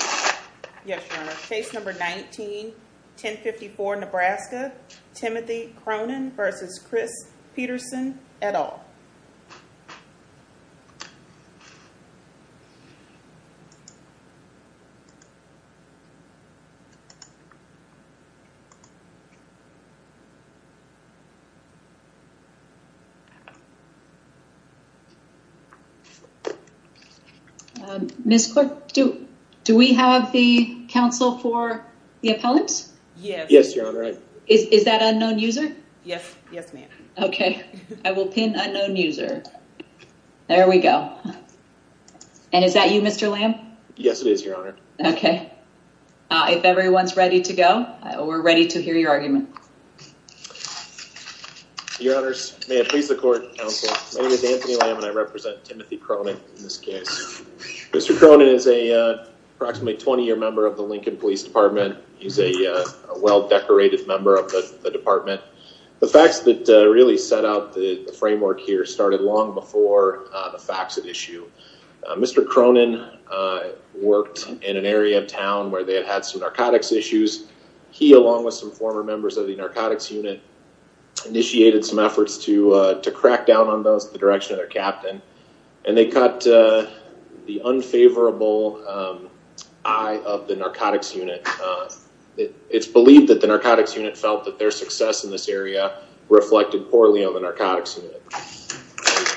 Yes, Your Honor. Case number 19, 1054 Nebraska, Timothy Cronin v. Chris Peterson, et al. Ms. Cork, do we have the counsel for the appellant? Yes, Your Honor. Is that unknown user? Yes, ma'am. Okay, I will pin unknown user. There we go. And is that you, Mr. Lamb? Yes, it is, Your Honor. Okay. If everyone's ready to go, we're ready to hear your argument. Your Honors, may it please the court, counsel, my name is Anthony Lamb and I represent Timothy Cronin in this case. Mr. Cronin is a approximately 20-year member of the Lincoln Police Department. He's a well-decorated member of the department. The facts that really set out the framework here started long before the facts at issue. Mr. Cronin worked in an area of town where they had had some narcotics issues. He, along with some former members of the narcotics unit, initiated some efforts to crack down on those in the direction of their captain. And they caught the unfavorable eye of the narcotics unit. It's believed that the narcotics unit felt that their success in this area reflected poorly on the narcotics unit.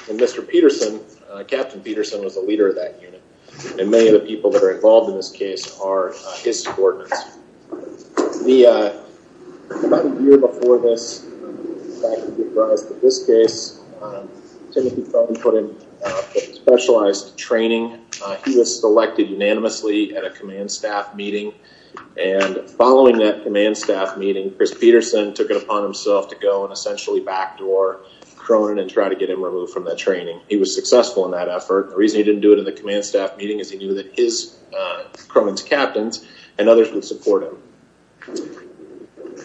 And Mr. Peterson, Captain Peterson, was the leader of that unit. And many of the people that are involved in this case are his subordinates. About a year before this, back in this case, Timothy Cronin put in specialized training. He was selected unanimously at a command staff meeting. And following that command staff meeting, Chris Peterson took it upon himself to go and essentially backdoor Cronin and try to get him removed from that training. He was successful in that effort. The reason he didn't do it in the command staff meeting is he knew that Cronin's captains and others would support him.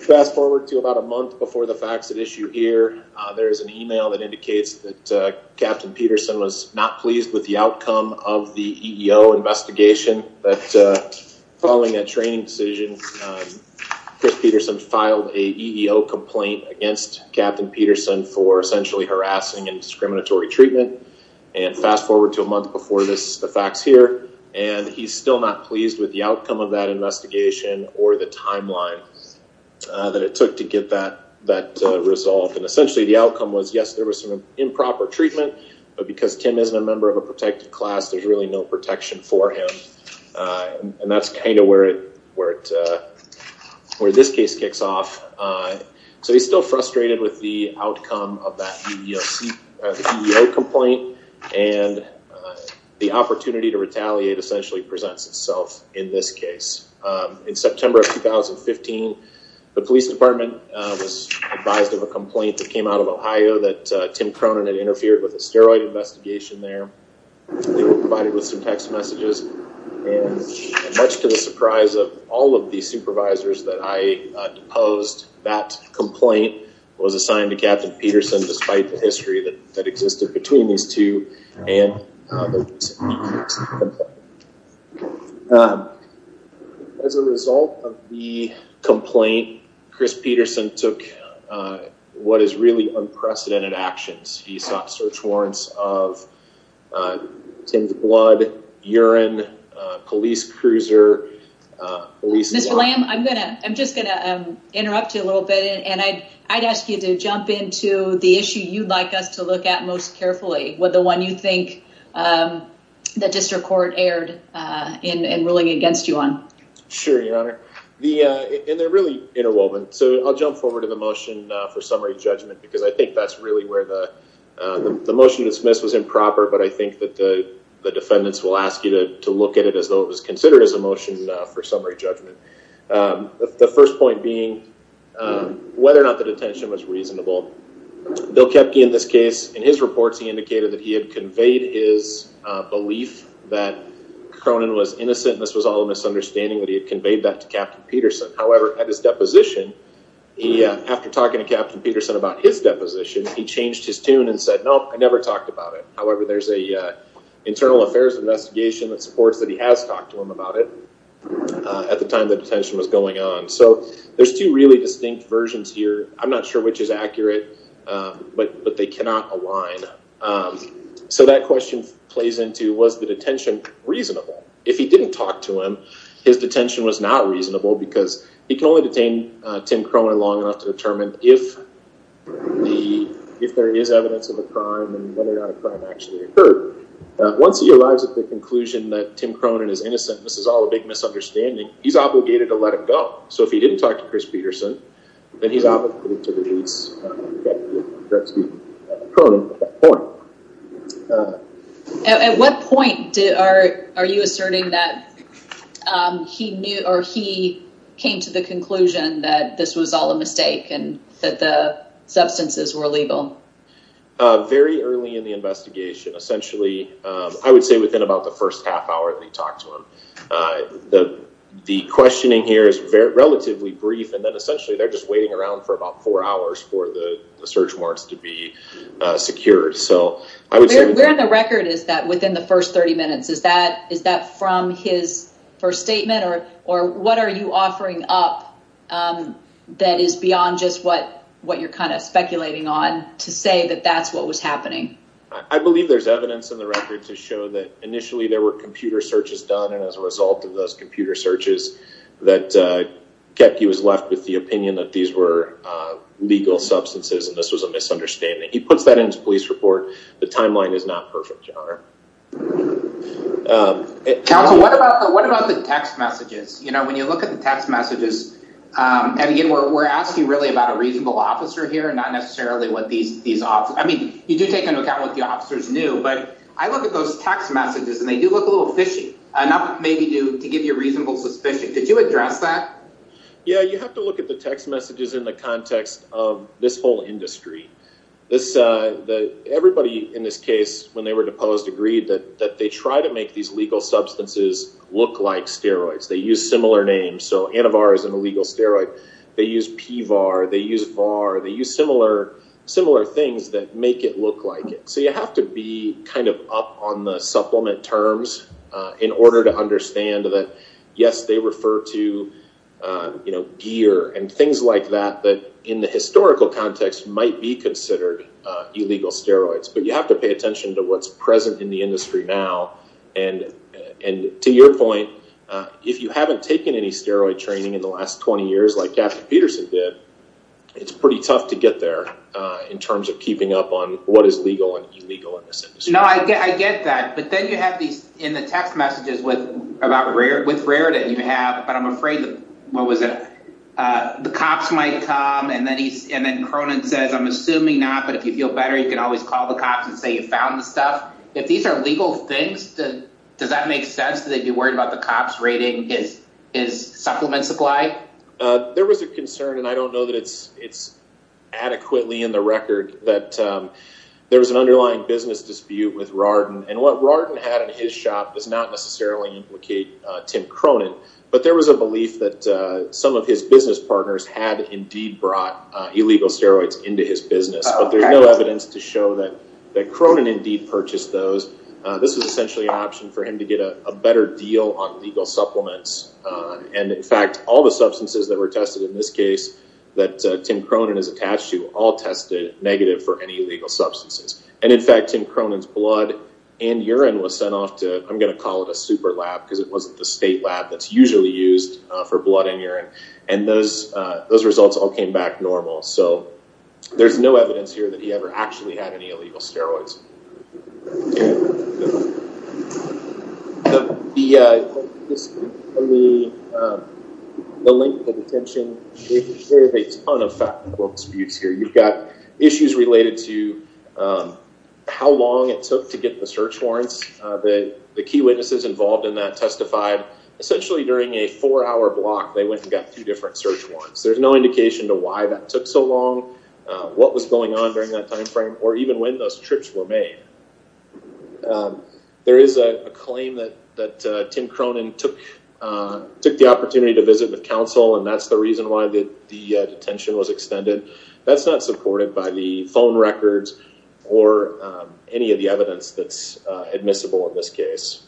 Fast forward to about a month before the facts at issue here. There is an email that indicates that Captain Peterson was not pleased with the outcome of the EEO investigation. But following that training decision, Chris Peterson filed an EEO complaint against Captain Peterson for essentially harassing and discriminatory treatment. And fast forward to a month before the facts here. And he's still not pleased with the outcome of that investigation or the timeline that it took to get that resolved. And essentially the outcome was, yes, there was some improper treatment. But because Tim isn't a member of a protected class, there's really no protection for him. And that's kind of where this case kicks off. So he's still frustrated with the outcome of that EEO complaint. And the opportunity to retaliate essentially presents itself in this case. In September of 2015, the police department was advised of a complaint that came out of Ohio that Tim Cronin had interfered with a steroid investigation there. They were provided with some text messages. And much to the surprise of all of the supervisors that I deposed, that complaint was assigned to Captain Peterson despite the history that existed between these two. As a result of the complaint, Chris Peterson took what is really unprecedented actions. He sought search warrants of Tim's blood, urine, police cruiser. Mr. Lamb, I'm just going to interrupt you a little bit. And I'd ask you to jump into the issue you'd like us to look at most carefully, the one you think the district court erred in ruling against you on. Sure, Your Honor. And they're really interwoven. So I'll jump forward to the motion for summary judgment because I think that's really where the motion to dismiss was improper. But I think that the defendants will ask you to look at it as though it was considered as a motion for summary judgment. The first point being whether or not the detention was reasonable. Bill Koepke in this case, in his reports, he indicated that he had conveyed his belief that Cronin was innocent. This was all a misunderstanding that he had conveyed that to Captain Peterson. However, at his deposition, after talking to Captain Peterson about his deposition, he changed his tune and said, no, I never talked about it. However, there's an internal affairs investigation that supports that he has talked to him about it at the time the detention was going on. So there's two really distinct versions here. I'm not sure which is accurate, but they cannot align. So that question plays into was the detention reasonable? If he didn't talk to him, his detention was not reasonable because he can only detain Tim Cronin long enough to determine if there is evidence of a crime and whether or not a crime actually occurred. Once he arrives at the conclusion that Tim Cronin is innocent, this is all a big misunderstanding, he's obligated to let him go. So if he didn't talk to Chris Peterson, then he's obligated to release Tim Cronin at that point. At what point are you asserting that he knew or he came to the conclusion that this was all a mistake and that the substances were illegal? Very early in the investigation, essentially, I would say within about the first half hour that he talked to him. The questioning here is relatively brief. And then essentially, they're just waiting around for about four hours for the search warrants to be secured. So I would say the record is that within the first 30 minutes, is that is that from his first statement or or what are you offering up that is beyond just what what you're kind of speculating on to say that that's what was happening? I believe there's evidence in the record to show that initially there were computer searches done. And as a result of those computer searches that kept, he was left with the opinion that these were legal substances. And this was a misunderstanding. He puts that into police report. The timeline is not perfect. What about what about the text messages? You know, when you look at the text messages, we're asking really about a reasonable officer here and not necessarily what these these are. I mean, you do take into account what the officers knew. But I look at those text messages and they do look a little fishy. Maybe to give you a reasonable suspicion. Did you address that? Yeah, you have to look at the text messages in the context of this whole industry. This the everybody in this case, when they were deposed, agreed that that they try to make these legal substances look like steroids. They use similar names. So Anivar is an illegal steroid. They use PVAR. They use VAR. They use similar similar things that make it look like it. So you have to be kind of up on the supplement terms in order to understand that. Yes, they refer to, you know, gear and things like that, that in the historical context might be considered illegal steroids. But you have to pay attention to what's present in the industry now. And and to your point, if you haven't taken any steroid training in the last 20 years, like Peterson did, it's pretty tough to get there in terms of keeping up on what is legal and illegal. No, I get that. But then you have these in the text messages with about rare with rare that you have. But I'm afraid what was it? The cops might come and then he's in. And Cronin says, I'm assuming not. But if you feel better, you can always call the cops and say you found the stuff. If these are legal things, does that make sense that you're worried about the cops rating is is supplement supply? There was a concern, and I don't know that it's it's adequately in the record, that there was an underlying business dispute with Rarden. And what Rarden had in his shop does not necessarily implicate Tim Cronin. But there was a belief that some of his business partners had indeed brought illegal steroids into his business. But there's no evidence to show that that Cronin indeed purchased those. This is essentially an option for him to get a better deal on legal supplements. And in fact, all the substances that were tested in this case that Tim Cronin is attached to all tested negative for any legal substances. And in fact, Tim Cronin's blood and urine was sent off to I'm going to call it a super lab because it wasn't the state lab that's usually used for blood and urine. And those those results all came back normal. So there's no evidence here that he ever actually had any illegal steroids. The the length of detention is a ton of factual disputes here. You've got issues related to how long it took to get the search warrants that the key witnesses involved in that testified. Essentially, during a four hour block, they went and got two different search warrants. There's no indication to why that took so long, what was going on during that time frame, or even when those trips were made. There is a claim that that Tim Cronin took took the opportunity to visit the council. And that's the reason why the detention was extended. That's not supported by the phone records or any of the evidence that's admissible in this case.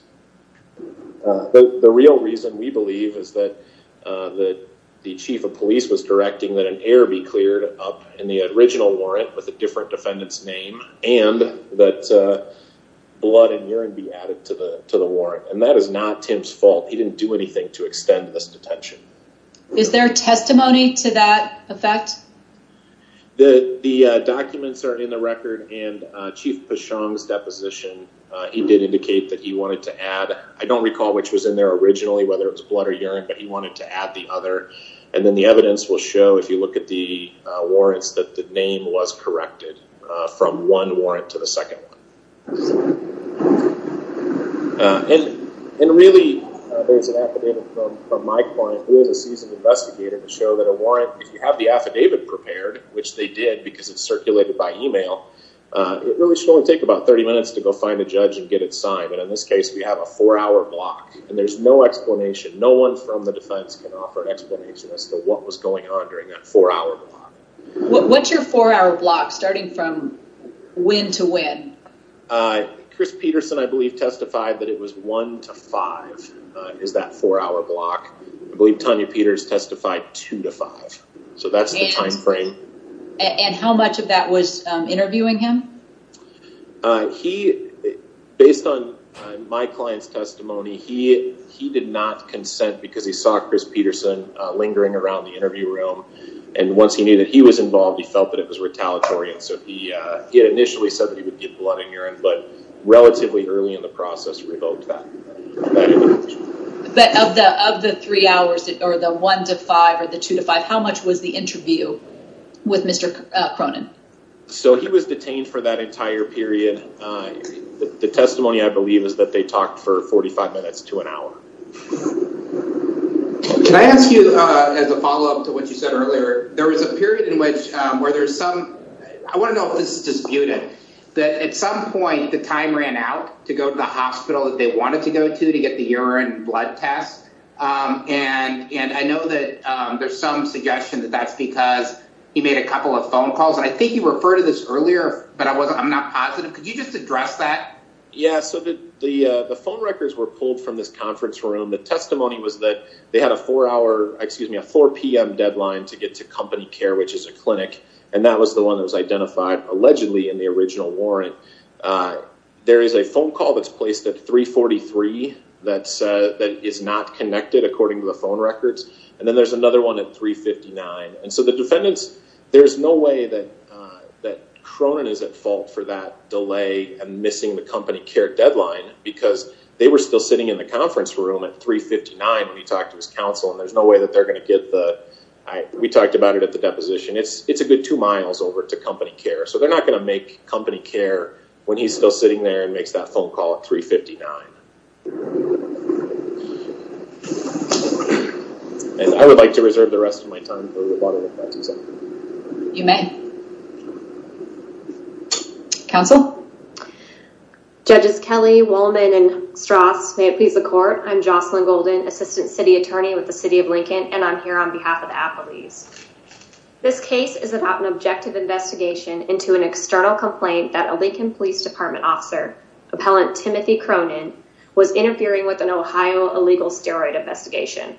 The real reason we believe is that the chief of police was directing that an air be cleared up in the original warrant with a different defendant's name and that blood and urine be added to the to the warrant. And that is not Tim's fault. He didn't do anything to extend this detention. Is there testimony to that effect? The documents are in the record and Chief Pashong's deposition, he did indicate that he wanted to add. I don't recall which was in there originally, whether it was blood or urine, but he wanted to add the other. And then the evidence will show if you look at the warrants, that the name was corrected from one warrant to the second. And really, there's an affidavit from my client who is a seasoned investigator to show that a warrant, if you have the affidavit prepared, which they did because it's circulated by email, it really should only take about 30 minutes to go find a judge and get it signed. But in this case, we have a four hour block and there's no explanation. No one from the defense can offer an explanation as to what was going on during that four hour block. What's your four hour block starting from when to when? Chris Peterson, I believe, testified that it was one to five is that four hour block. I believe Tanya Peters testified two to five. So that's the time frame. And how much of that was interviewing him? He, based on my client's testimony, he did not consent because he saw Chris Peterson lingering around the interview room. And once he knew that he was involved, he felt that it was retaliatory. And so he initially said that he would give blood and urine, but relatively early in the process revoked that. But of the three hours or the one to five or the two to five, how much was the interview with Mr. Cronin? So he was detained for that entire period. The testimony, I believe, is that they talked for 45 minutes to an hour. Can I ask you as a follow up to what you said earlier? There was a period in which where there's some. I want to know if this is disputed that at some point the time ran out to go to the hospital that they wanted to go to, to get the urine blood test. And I know that there's some suggestion that that's because he made a couple of phone calls. I think you referred to this earlier, but I wasn't I'm not positive. Could you just address that? Yes. So the phone records were pulled from this conference room. The testimony was that they had a four hour excuse me, a 4 p.m. deadline to get to company care, which is a clinic. And that was the one that was identified allegedly in the original warrant. There is a phone call that's placed at three forty three. That's that is not connected, according to the phone records. And then there's another one at three fifty nine. And so the defendants, there's no way that that Cronin is at fault for that delay and missing the company care deadline, because they were still sitting in the conference room at three fifty nine when he talked to his counsel. And there's no way that they're going to get the. We talked about it at the deposition. It's a good two miles over to company care. So they're not going to make company care when he's still sitting there and makes that phone call at three fifty nine. And I would like to reserve the rest of my time. You may counsel. Judges Kelly, Wollman and Strauss, may it please the court. I'm Jocelyn Golden, assistant city attorney with the city of Lincoln. And I'm here on behalf of Applebee's. This case is about an objective investigation into an external complaint that a Lincoln Police Department officer, appellant Timothy Cronin, was interfering with an Ohio illegal steroid investigation.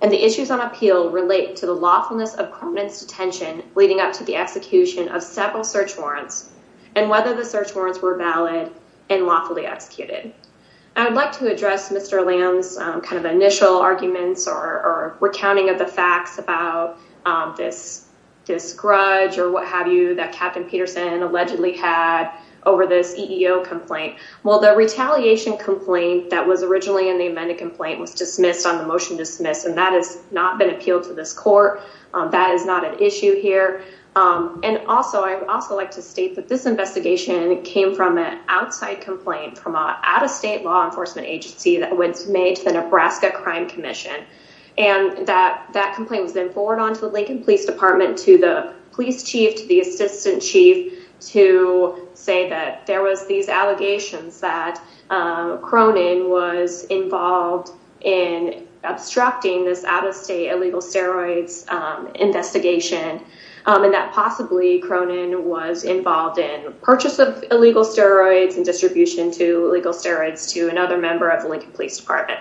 And the issues on appeal relate to the lawfulness of Cronin's detention leading up to the execution of several search warrants and whether the search warrants were valid and lawfully executed. I'd like to address Mr. Lamb's kind of initial arguments or recounting of the facts about this. This grudge or what have you, that Captain Peterson allegedly had over this EEO complaint. Well, the retaliation complaint that was originally in the amended complaint was dismissed on the motion dismiss. And that is not been appealed to this court. That is not an issue here. And also, I also like to state that this investigation came from an outside complaint from out of state law enforcement agency that was made to the Nebraska Crime Commission. And that that complaint was then forwarded on to the Lincoln Police Department, to the police chief, to the assistant chief, to say that there was these allegations that Cronin was involved in obstructing this out of state illegal steroids investigation. And that possibly Cronin was involved in purchase of illegal steroids and distribution to legal steroids to another member of the Lincoln Police Department.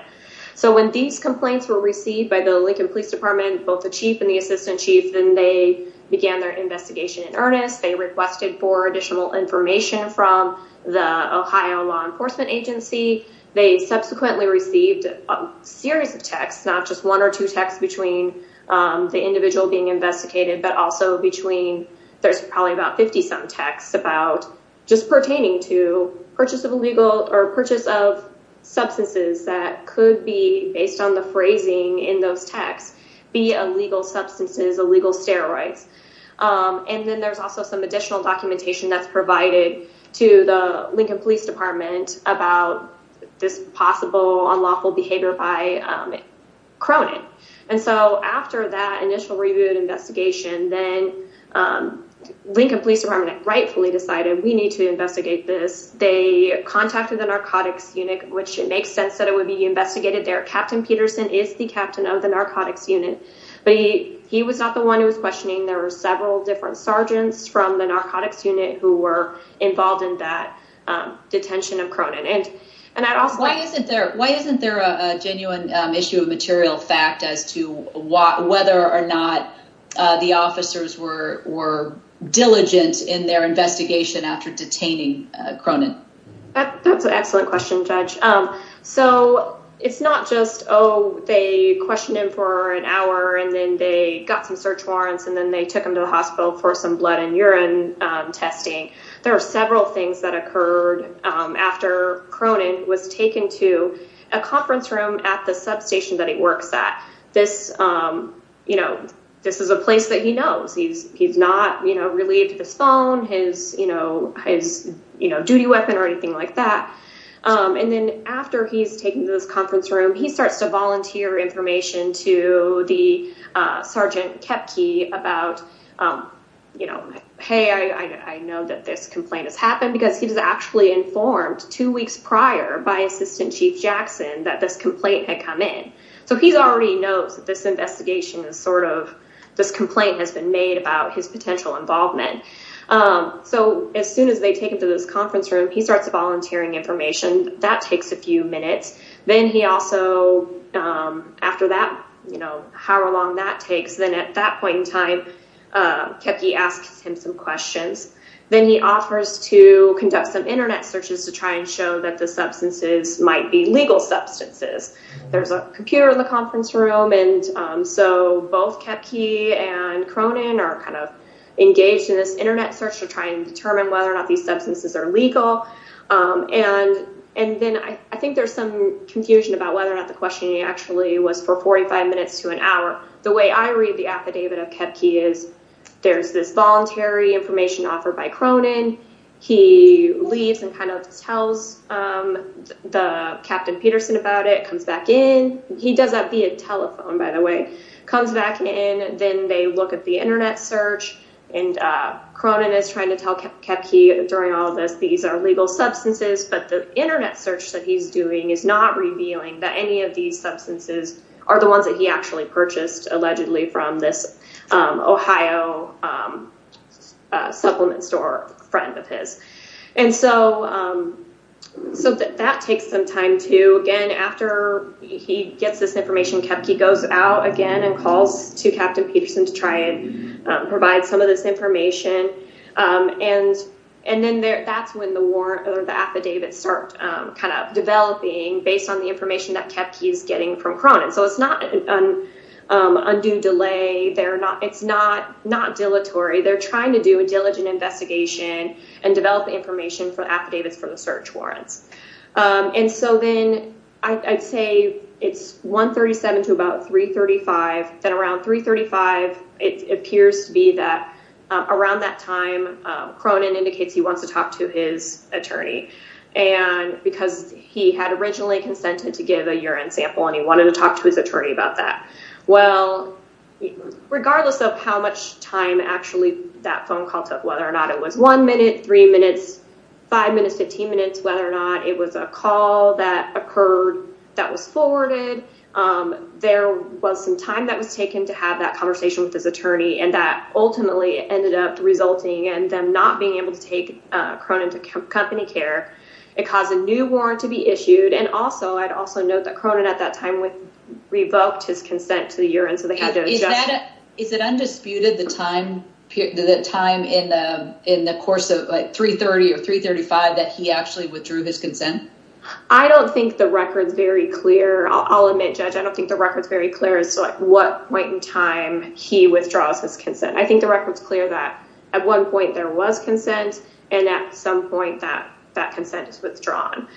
So when these complaints were received by the Lincoln Police Department, both the chief and the assistant chief, then they began their investigation in earnest. They requested for additional information from the Ohio law enforcement agency. They subsequently received a series of texts, not just one or two texts between the individual being investigated, but also between there's probably about 50 some texts about just pertaining to purchase of illegal or purchase of substances that could be based on the phrasing in those texts be illegal substances, illegal steroids. And then there's also some additional documentation that's provided to the Lincoln Police Department about this possible unlawful behavior by Cronin. And so after that initial review and investigation, then Lincoln Police Department rightfully decided we need to investigate this. They contacted the narcotics unit, which makes sense that it would be investigated there. Captain Peterson is the captain of the narcotics unit, but he was not the one who was questioning. There were several different sergeants from the narcotics unit who were involved in that detention of Cronin. Why isn't there a genuine issue of material fact as to whether or not the officers were were diligent in their investigation after detaining Cronin? That's an excellent question, Judge. So it's not just, oh, they questioned him for an hour and then they got some search warrants and then they took him to the hospital for some blood and urine testing. There are several things that occurred after Cronin was taken to a conference room at the substation that he works at. This, you know, this is a place that he knows he's he's not, you know, related to this phone, his, you know, his duty weapon or anything like that. And then after he's taken to this conference room, he starts to volunteer information to the Sergeant Kepke about, you know, hey, I know that this complaint has happened because he was actually informed two weeks prior by Assistant Chief Jackson that this complaint had come in. So he's already knows that this investigation is sort of this complaint has been made about his potential involvement. So as soon as they take him to this conference room, he starts volunteering information that takes a few minutes. Then he also after that, you know, however long that takes. Then at that point in time, Kepke asks him some questions. Then he offers to conduct some Internet searches to try and show that the substances might be legal substances. There's a computer in the conference room. And so both Kepke and Cronin are kind of engaged in this Internet search to try and determine whether or not these substances are legal. And and then I think there's some confusion about whether or not the questioning actually was for 45 minutes to an hour. The way I read the affidavit of Kepke is there's this voluntary information offered by Cronin. He leaves and kind of tells the Captain Peterson about it, comes back in. He does that via telephone, by the way, comes back in. Then they look at the Internet search and Cronin is trying to tell Kepke during all of this, these are legal substances. But the Internet search that he's doing is not revealing that any of these substances are the ones that he actually purchased, allegedly from this Ohio supplement store friend of his. And so that takes some time, too. Again, after he gets this information, Kepke goes out again and calls to Captain Peterson to try and provide some of this information. And and then that's when the warrant or the affidavit start kind of developing based on the information that Kepke is getting from Cronin. So it's not an undue delay. They're not it's not not dilatory. They're trying to do a diligent investigation and develop information for affidavits for the search warrants. And so then I'd say it's one thirty seven to about three thirty five. Then around three thirty five, it appears to be that around that time, Cronin indicates he wants to talk to his attorney and because he had originally consented to give a urine sample and he wanted to talk to his attorney about that. Well, regardless of how much time actually that phone call took, whether or not it was one minute, three minutes, five minutes, 15 minutes, whether or not it was a call that occurred that was forwarded. There was some time that was taken to have that conversation with his attorney. And that ultimately ended up resulting in them not being able to take Cronin to company care. It caused a new warrant to be issued. And also I'd also note that Cronin at that time revoked his consent to the urine. So they had to adjust. Is it undisputed the time the time in the in the course of three thirty or three thirty five that he actually withdrew his consent? I don't think the record's very clear. I'll admit, Judge, I don't think the record's very clear as to what point in time he withdraws his consent. I think the record's clear that at one point there was consent and at some point that that consent is withdrawn.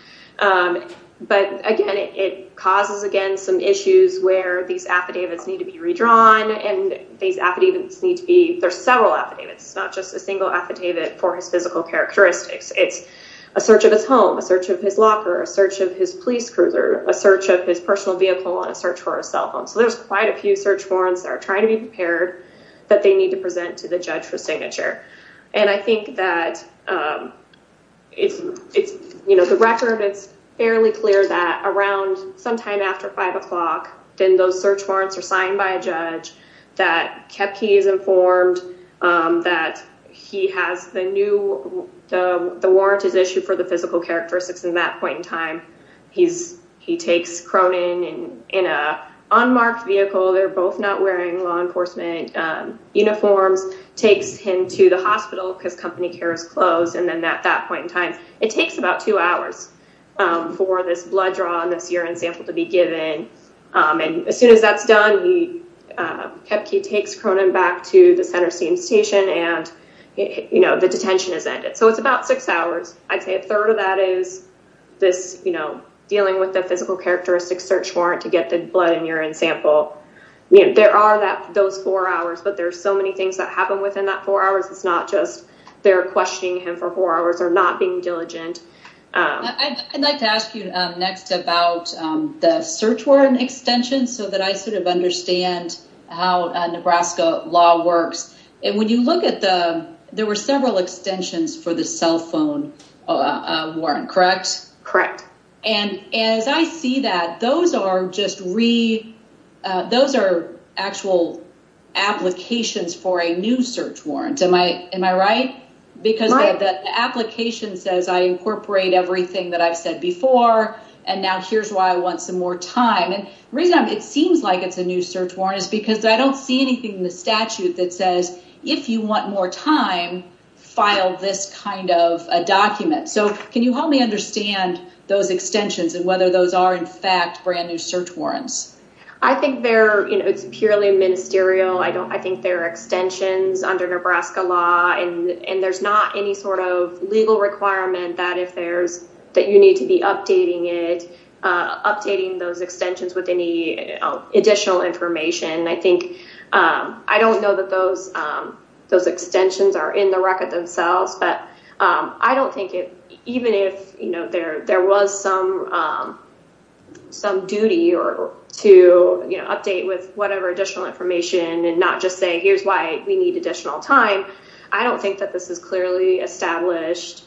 But again, it causes, again, some issues where these affidavits need to be redrawn and these affidavits need to be. There are several affidavits. It's not just a single affidavit for his physical characteristics. It's a search of his home, a search of his locker, a search of his police cruiser, a search of his personal vehicle and a search for a cell phone. So there's quite a few search warrants that are trying to be prepared that they need to present to the judge for signature. And I think that it's the record. It's fairly clear that around sometime after five o'clock, then those search warrants are signed by a judge that Kepke is informed that he has the new. The warrant is issued for the physical characteristics in that point in time. He's he takes Cronin in an unmarked vehicle. They're both not wearing law enforcement uniforms, takes him to the hospital because company care is closed. And then at that point in time, it takes about two hours for this blood draw and this urine sample to be given. And as soon as that's done, Kepke takes Cronin back to the center station and the detention is ended. So it's about six hours. I'd say a third of that is this, you know, dealing with the physical characteristics search warrant to get the blood and urine sample. There are those four hours, but there are so many things that happen within that four hours. It's not just they're questioning him for four hours or not being diligent. I'd like to ask you next about the search warrant extension so that I sort of understand how Nebraska law works. And when you look at the there were several extensions for the cell phone warrant, correct? Correct. And as I see that, those are just re those are actual applications for a new search warrant. Am I am I right? Because the application says I incorporate everything that I've said before. And now here's why I want some more time. And the reason it seems like it's a new search warrant is because I don't see anything in the statute that says, if you want more time, file this kind of document. So can you help me understand those extensions and whether those are, in fact, brand new search warrants? I think they're purely ministerial. I don't I think they're extensions under Nebraska law. And there's not any sort of legal requirement that if there's that you need to be updating it, updating those extensions with any additional information. I think I don't know that those those extensions are in the record themselves. But I don't think it even if, you know, there there was some some duty or to update with whatever additional information and not just say, here's why we need additional time. I don't think that this is clearly established,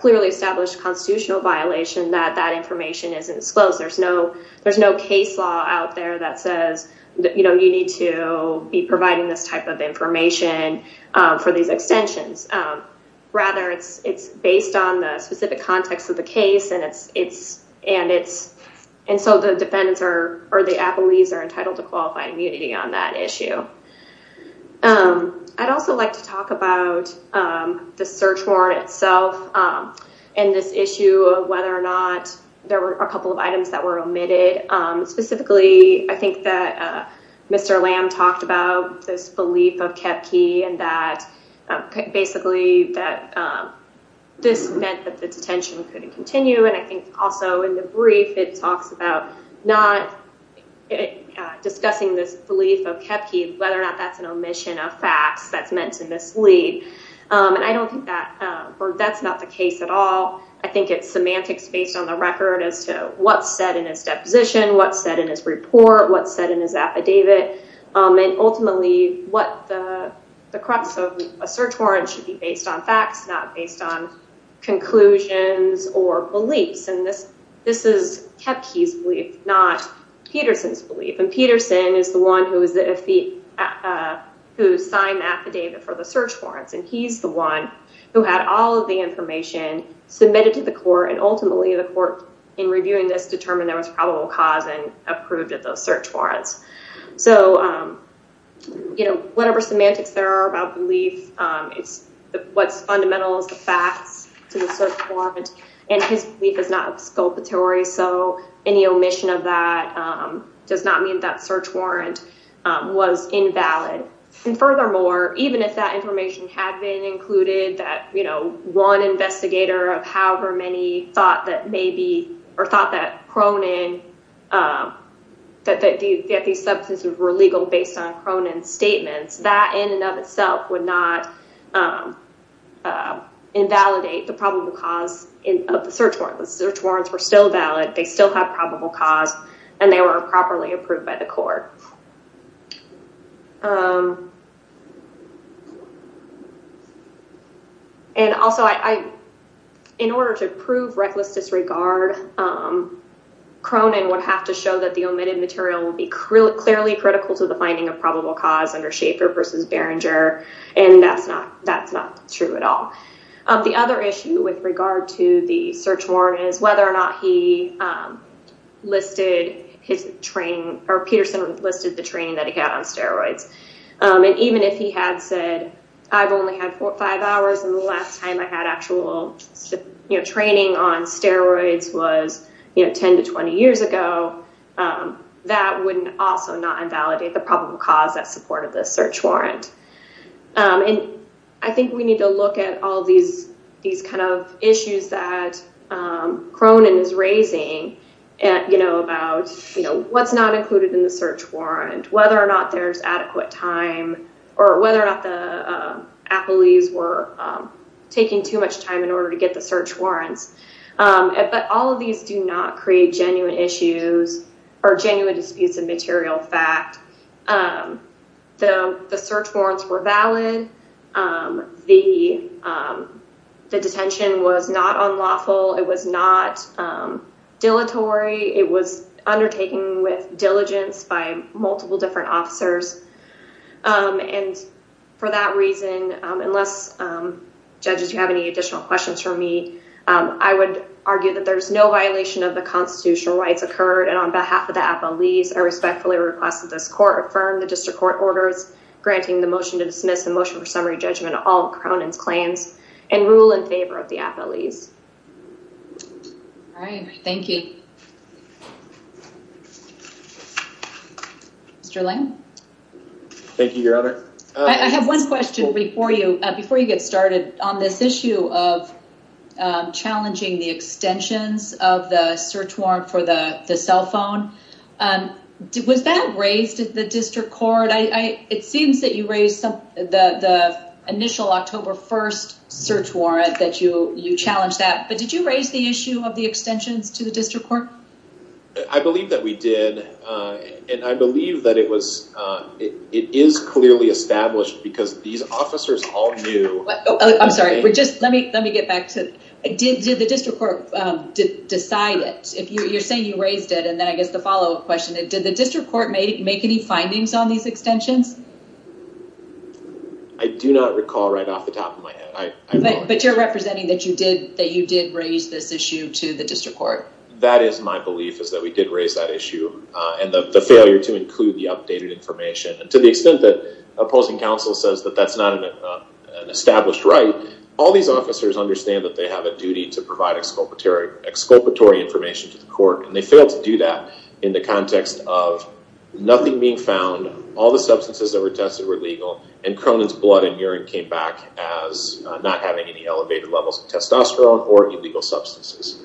clearly established constitutional violation that that information isn't disclosed. There's no there's no case law out there that says, you know, you need to be providing this type of information for these extensions. Rather, it's it's based on the specific context of the case. And it's it's and it's. And so the defendants are or the appellees are entitled to qualify immunity on that issue. I'd also like to talk about the search warrant itself and this issue of whether or not there were a couple of items that were omitted. Specifically, I think that Mr. Lamb talked about this belief of Kepke and that basically that this meant that the detention couldn't continue. And I think also in the brief, it talks about not discussing this belief of Kepke, whether or not that's an omission of facts that's meant to mislead. And I don't think that that's not the case at all. I think it's semantics based on the record as to what's said in his deposition, what's said in his report, what's said in his affidavit. And ultimately, what the crux of a search warrant should be based on facts, not based on conclusions or beliefs. And this this is Kepke's belief, not Peterson's belief. And Peterson is the one who is the who signed the affidavit for the search warrants. And he's the one who had all of the information submitted to the court. And ultimately, the court in reviewing this determined there was probable cause and approved of those search warrants. So, you know, whatever semantics there are about belief, it's what's fundamental is the facts to the search warrant. And his belief is not exculpatory. So any omission of that does not mean that search warrant was invalid. And furthermore, even if that information had been included, that, you know, one investigator of however many thought that maybe or thought that Cronin, that these substances were legal based on Cronin's statements, that in and of itself would not invalidate the probable cause of the search warrant. The search warrants were still valid. They still have probable cause and they were properly approved by the court. And also, I in order to prove reckless disregard, Cronin would have to show that the omitted material would be clearly critical to the finding of probable cause under Schaefer versus Berenger. And that's not that's not true at all. The other issue with regard to the search warrant is whether or not he listed his training or Peterson listed the training that he had on steroids. And even if he had said, I've only had four or five hours and the last time I had actual training on steroids was 10 to 20 years ago, that wouldn't also not invalidate the probable cause that supported the search warrant. And I think we need to look at all these these kind of issues that Cronin is raising, you know, about, you know, what's not included in the search warrant, whether or not there's adequate time or whether or not the Appleys were taking too much time in order to get the search warrants. But all of these do not create genuine issues or genuine disputes of material fact. The search warrants were valid. The the detention was not unlawful. It was not dilatory. It was undertaken with diligence by multiple different officers. And for that reason, unless judges, you have any additional questions for me, I would argue that there is no violation of the constitutional rights occurred. And on behalf of the Appleys, I respectfully request that this court affirm the district court orders granting the motion to dismiss the motion for summary judgment. All Cronin's claims and rule in favor of the Appleys. All right. Thank you. Mr. Lane. Thank you, Your Honor. I have one question before you before you get started on this issue of challenging the extensions of the search warrant for the cell phone. Was that raised at the district court? It seems that you raised the initial October 1st search warrant that you you challenged that. But did you raise the issue of the extensions to the district court? I believe that we did. And I believe that it was it is clearly established because these officers all knew. I'm sorry. We're just let me let me get back to it. Did the district court decide it? If you're saying you raised it and then I guess the follow up question, did the district court make any findings on these extensions? I do not recall right off the top of my head, but you're representing that you did that you did raise this issue to the district court. That is my belief is that we did raise that issue and the failure to include the updated information. And to the extent that opposing counsel says that that's not an established right. All these officers understand that they have a duty to provide exculpatory exculpatory information to the court. And they failed to do that in the context of nothing being found. All the substances that were tested were legal. And Cronin's blood and urine came back as not having any elevated levels of testosterone or illegal substances.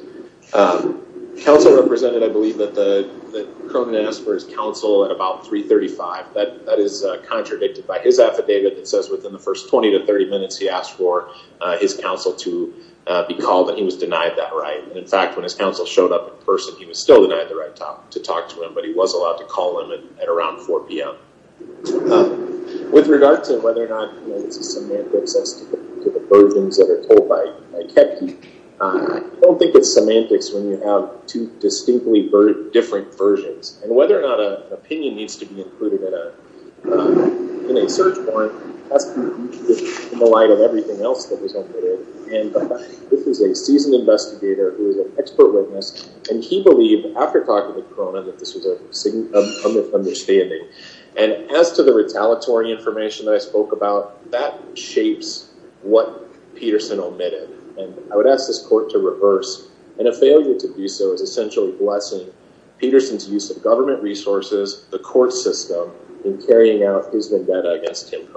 Counsel represented, I believe, that the Cronin asked for his counsel at about 335. That is contradicted by his affidavit that says within the first 20 to 30 minutes, he asked for his counsel to be called. And he was denied that right. In fact, when his counsel showed up in person, he was still denied the right to talk to him. But he was allowed to call him at around 4 p.m. With regard to whether or not it's a semantics as to the versions that are told by Kepke, I don't think it's semantics when you have two distinctly different versions. And whether or not an opinion needs to be included in a search warrant has to be included in the light of everything else that was included. And this is a seasoned investigator who is an expert witness. And he believed, after talking to Cronin, that this was a sign of misunderstanding. And as to the retaliatory information that I spoke about, that shapes what Peterson omitted. And I would ask this court to reverse. And a failure to do so is essentially blessing Peterson's use of government resources, the court system, in carrying out his vendetta against him.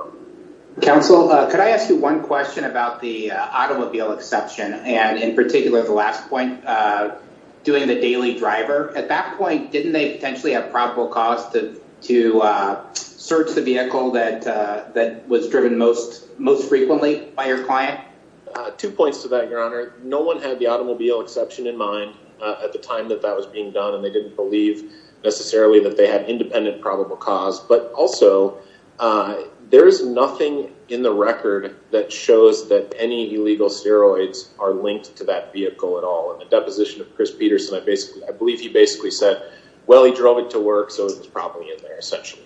Counsel, could I ask you one question about the automobile exception? And in particular, the last point, doing the daily driver. At that point, didn't they potentially have probable cause to search the vehicle that was driven most frequently by your client? Two points to that, Your Honor. No one had the automobile exception in mind at the time that that was being done. And they didn't believe necessarily that they had independent probable cause. But also, there is nothing in the record that shows that any illegal steroids are linked to that vehicle at all. In the deposition of Chris Peterson, I believe he basically said, well, he drove it to work, so it was probably in there, essentially.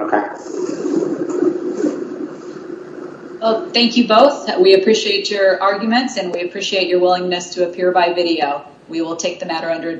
Okay. Well, thank you both. We appreciate your arguments, and we appreciate your willingness to appear by video. We will take the matter under investigation.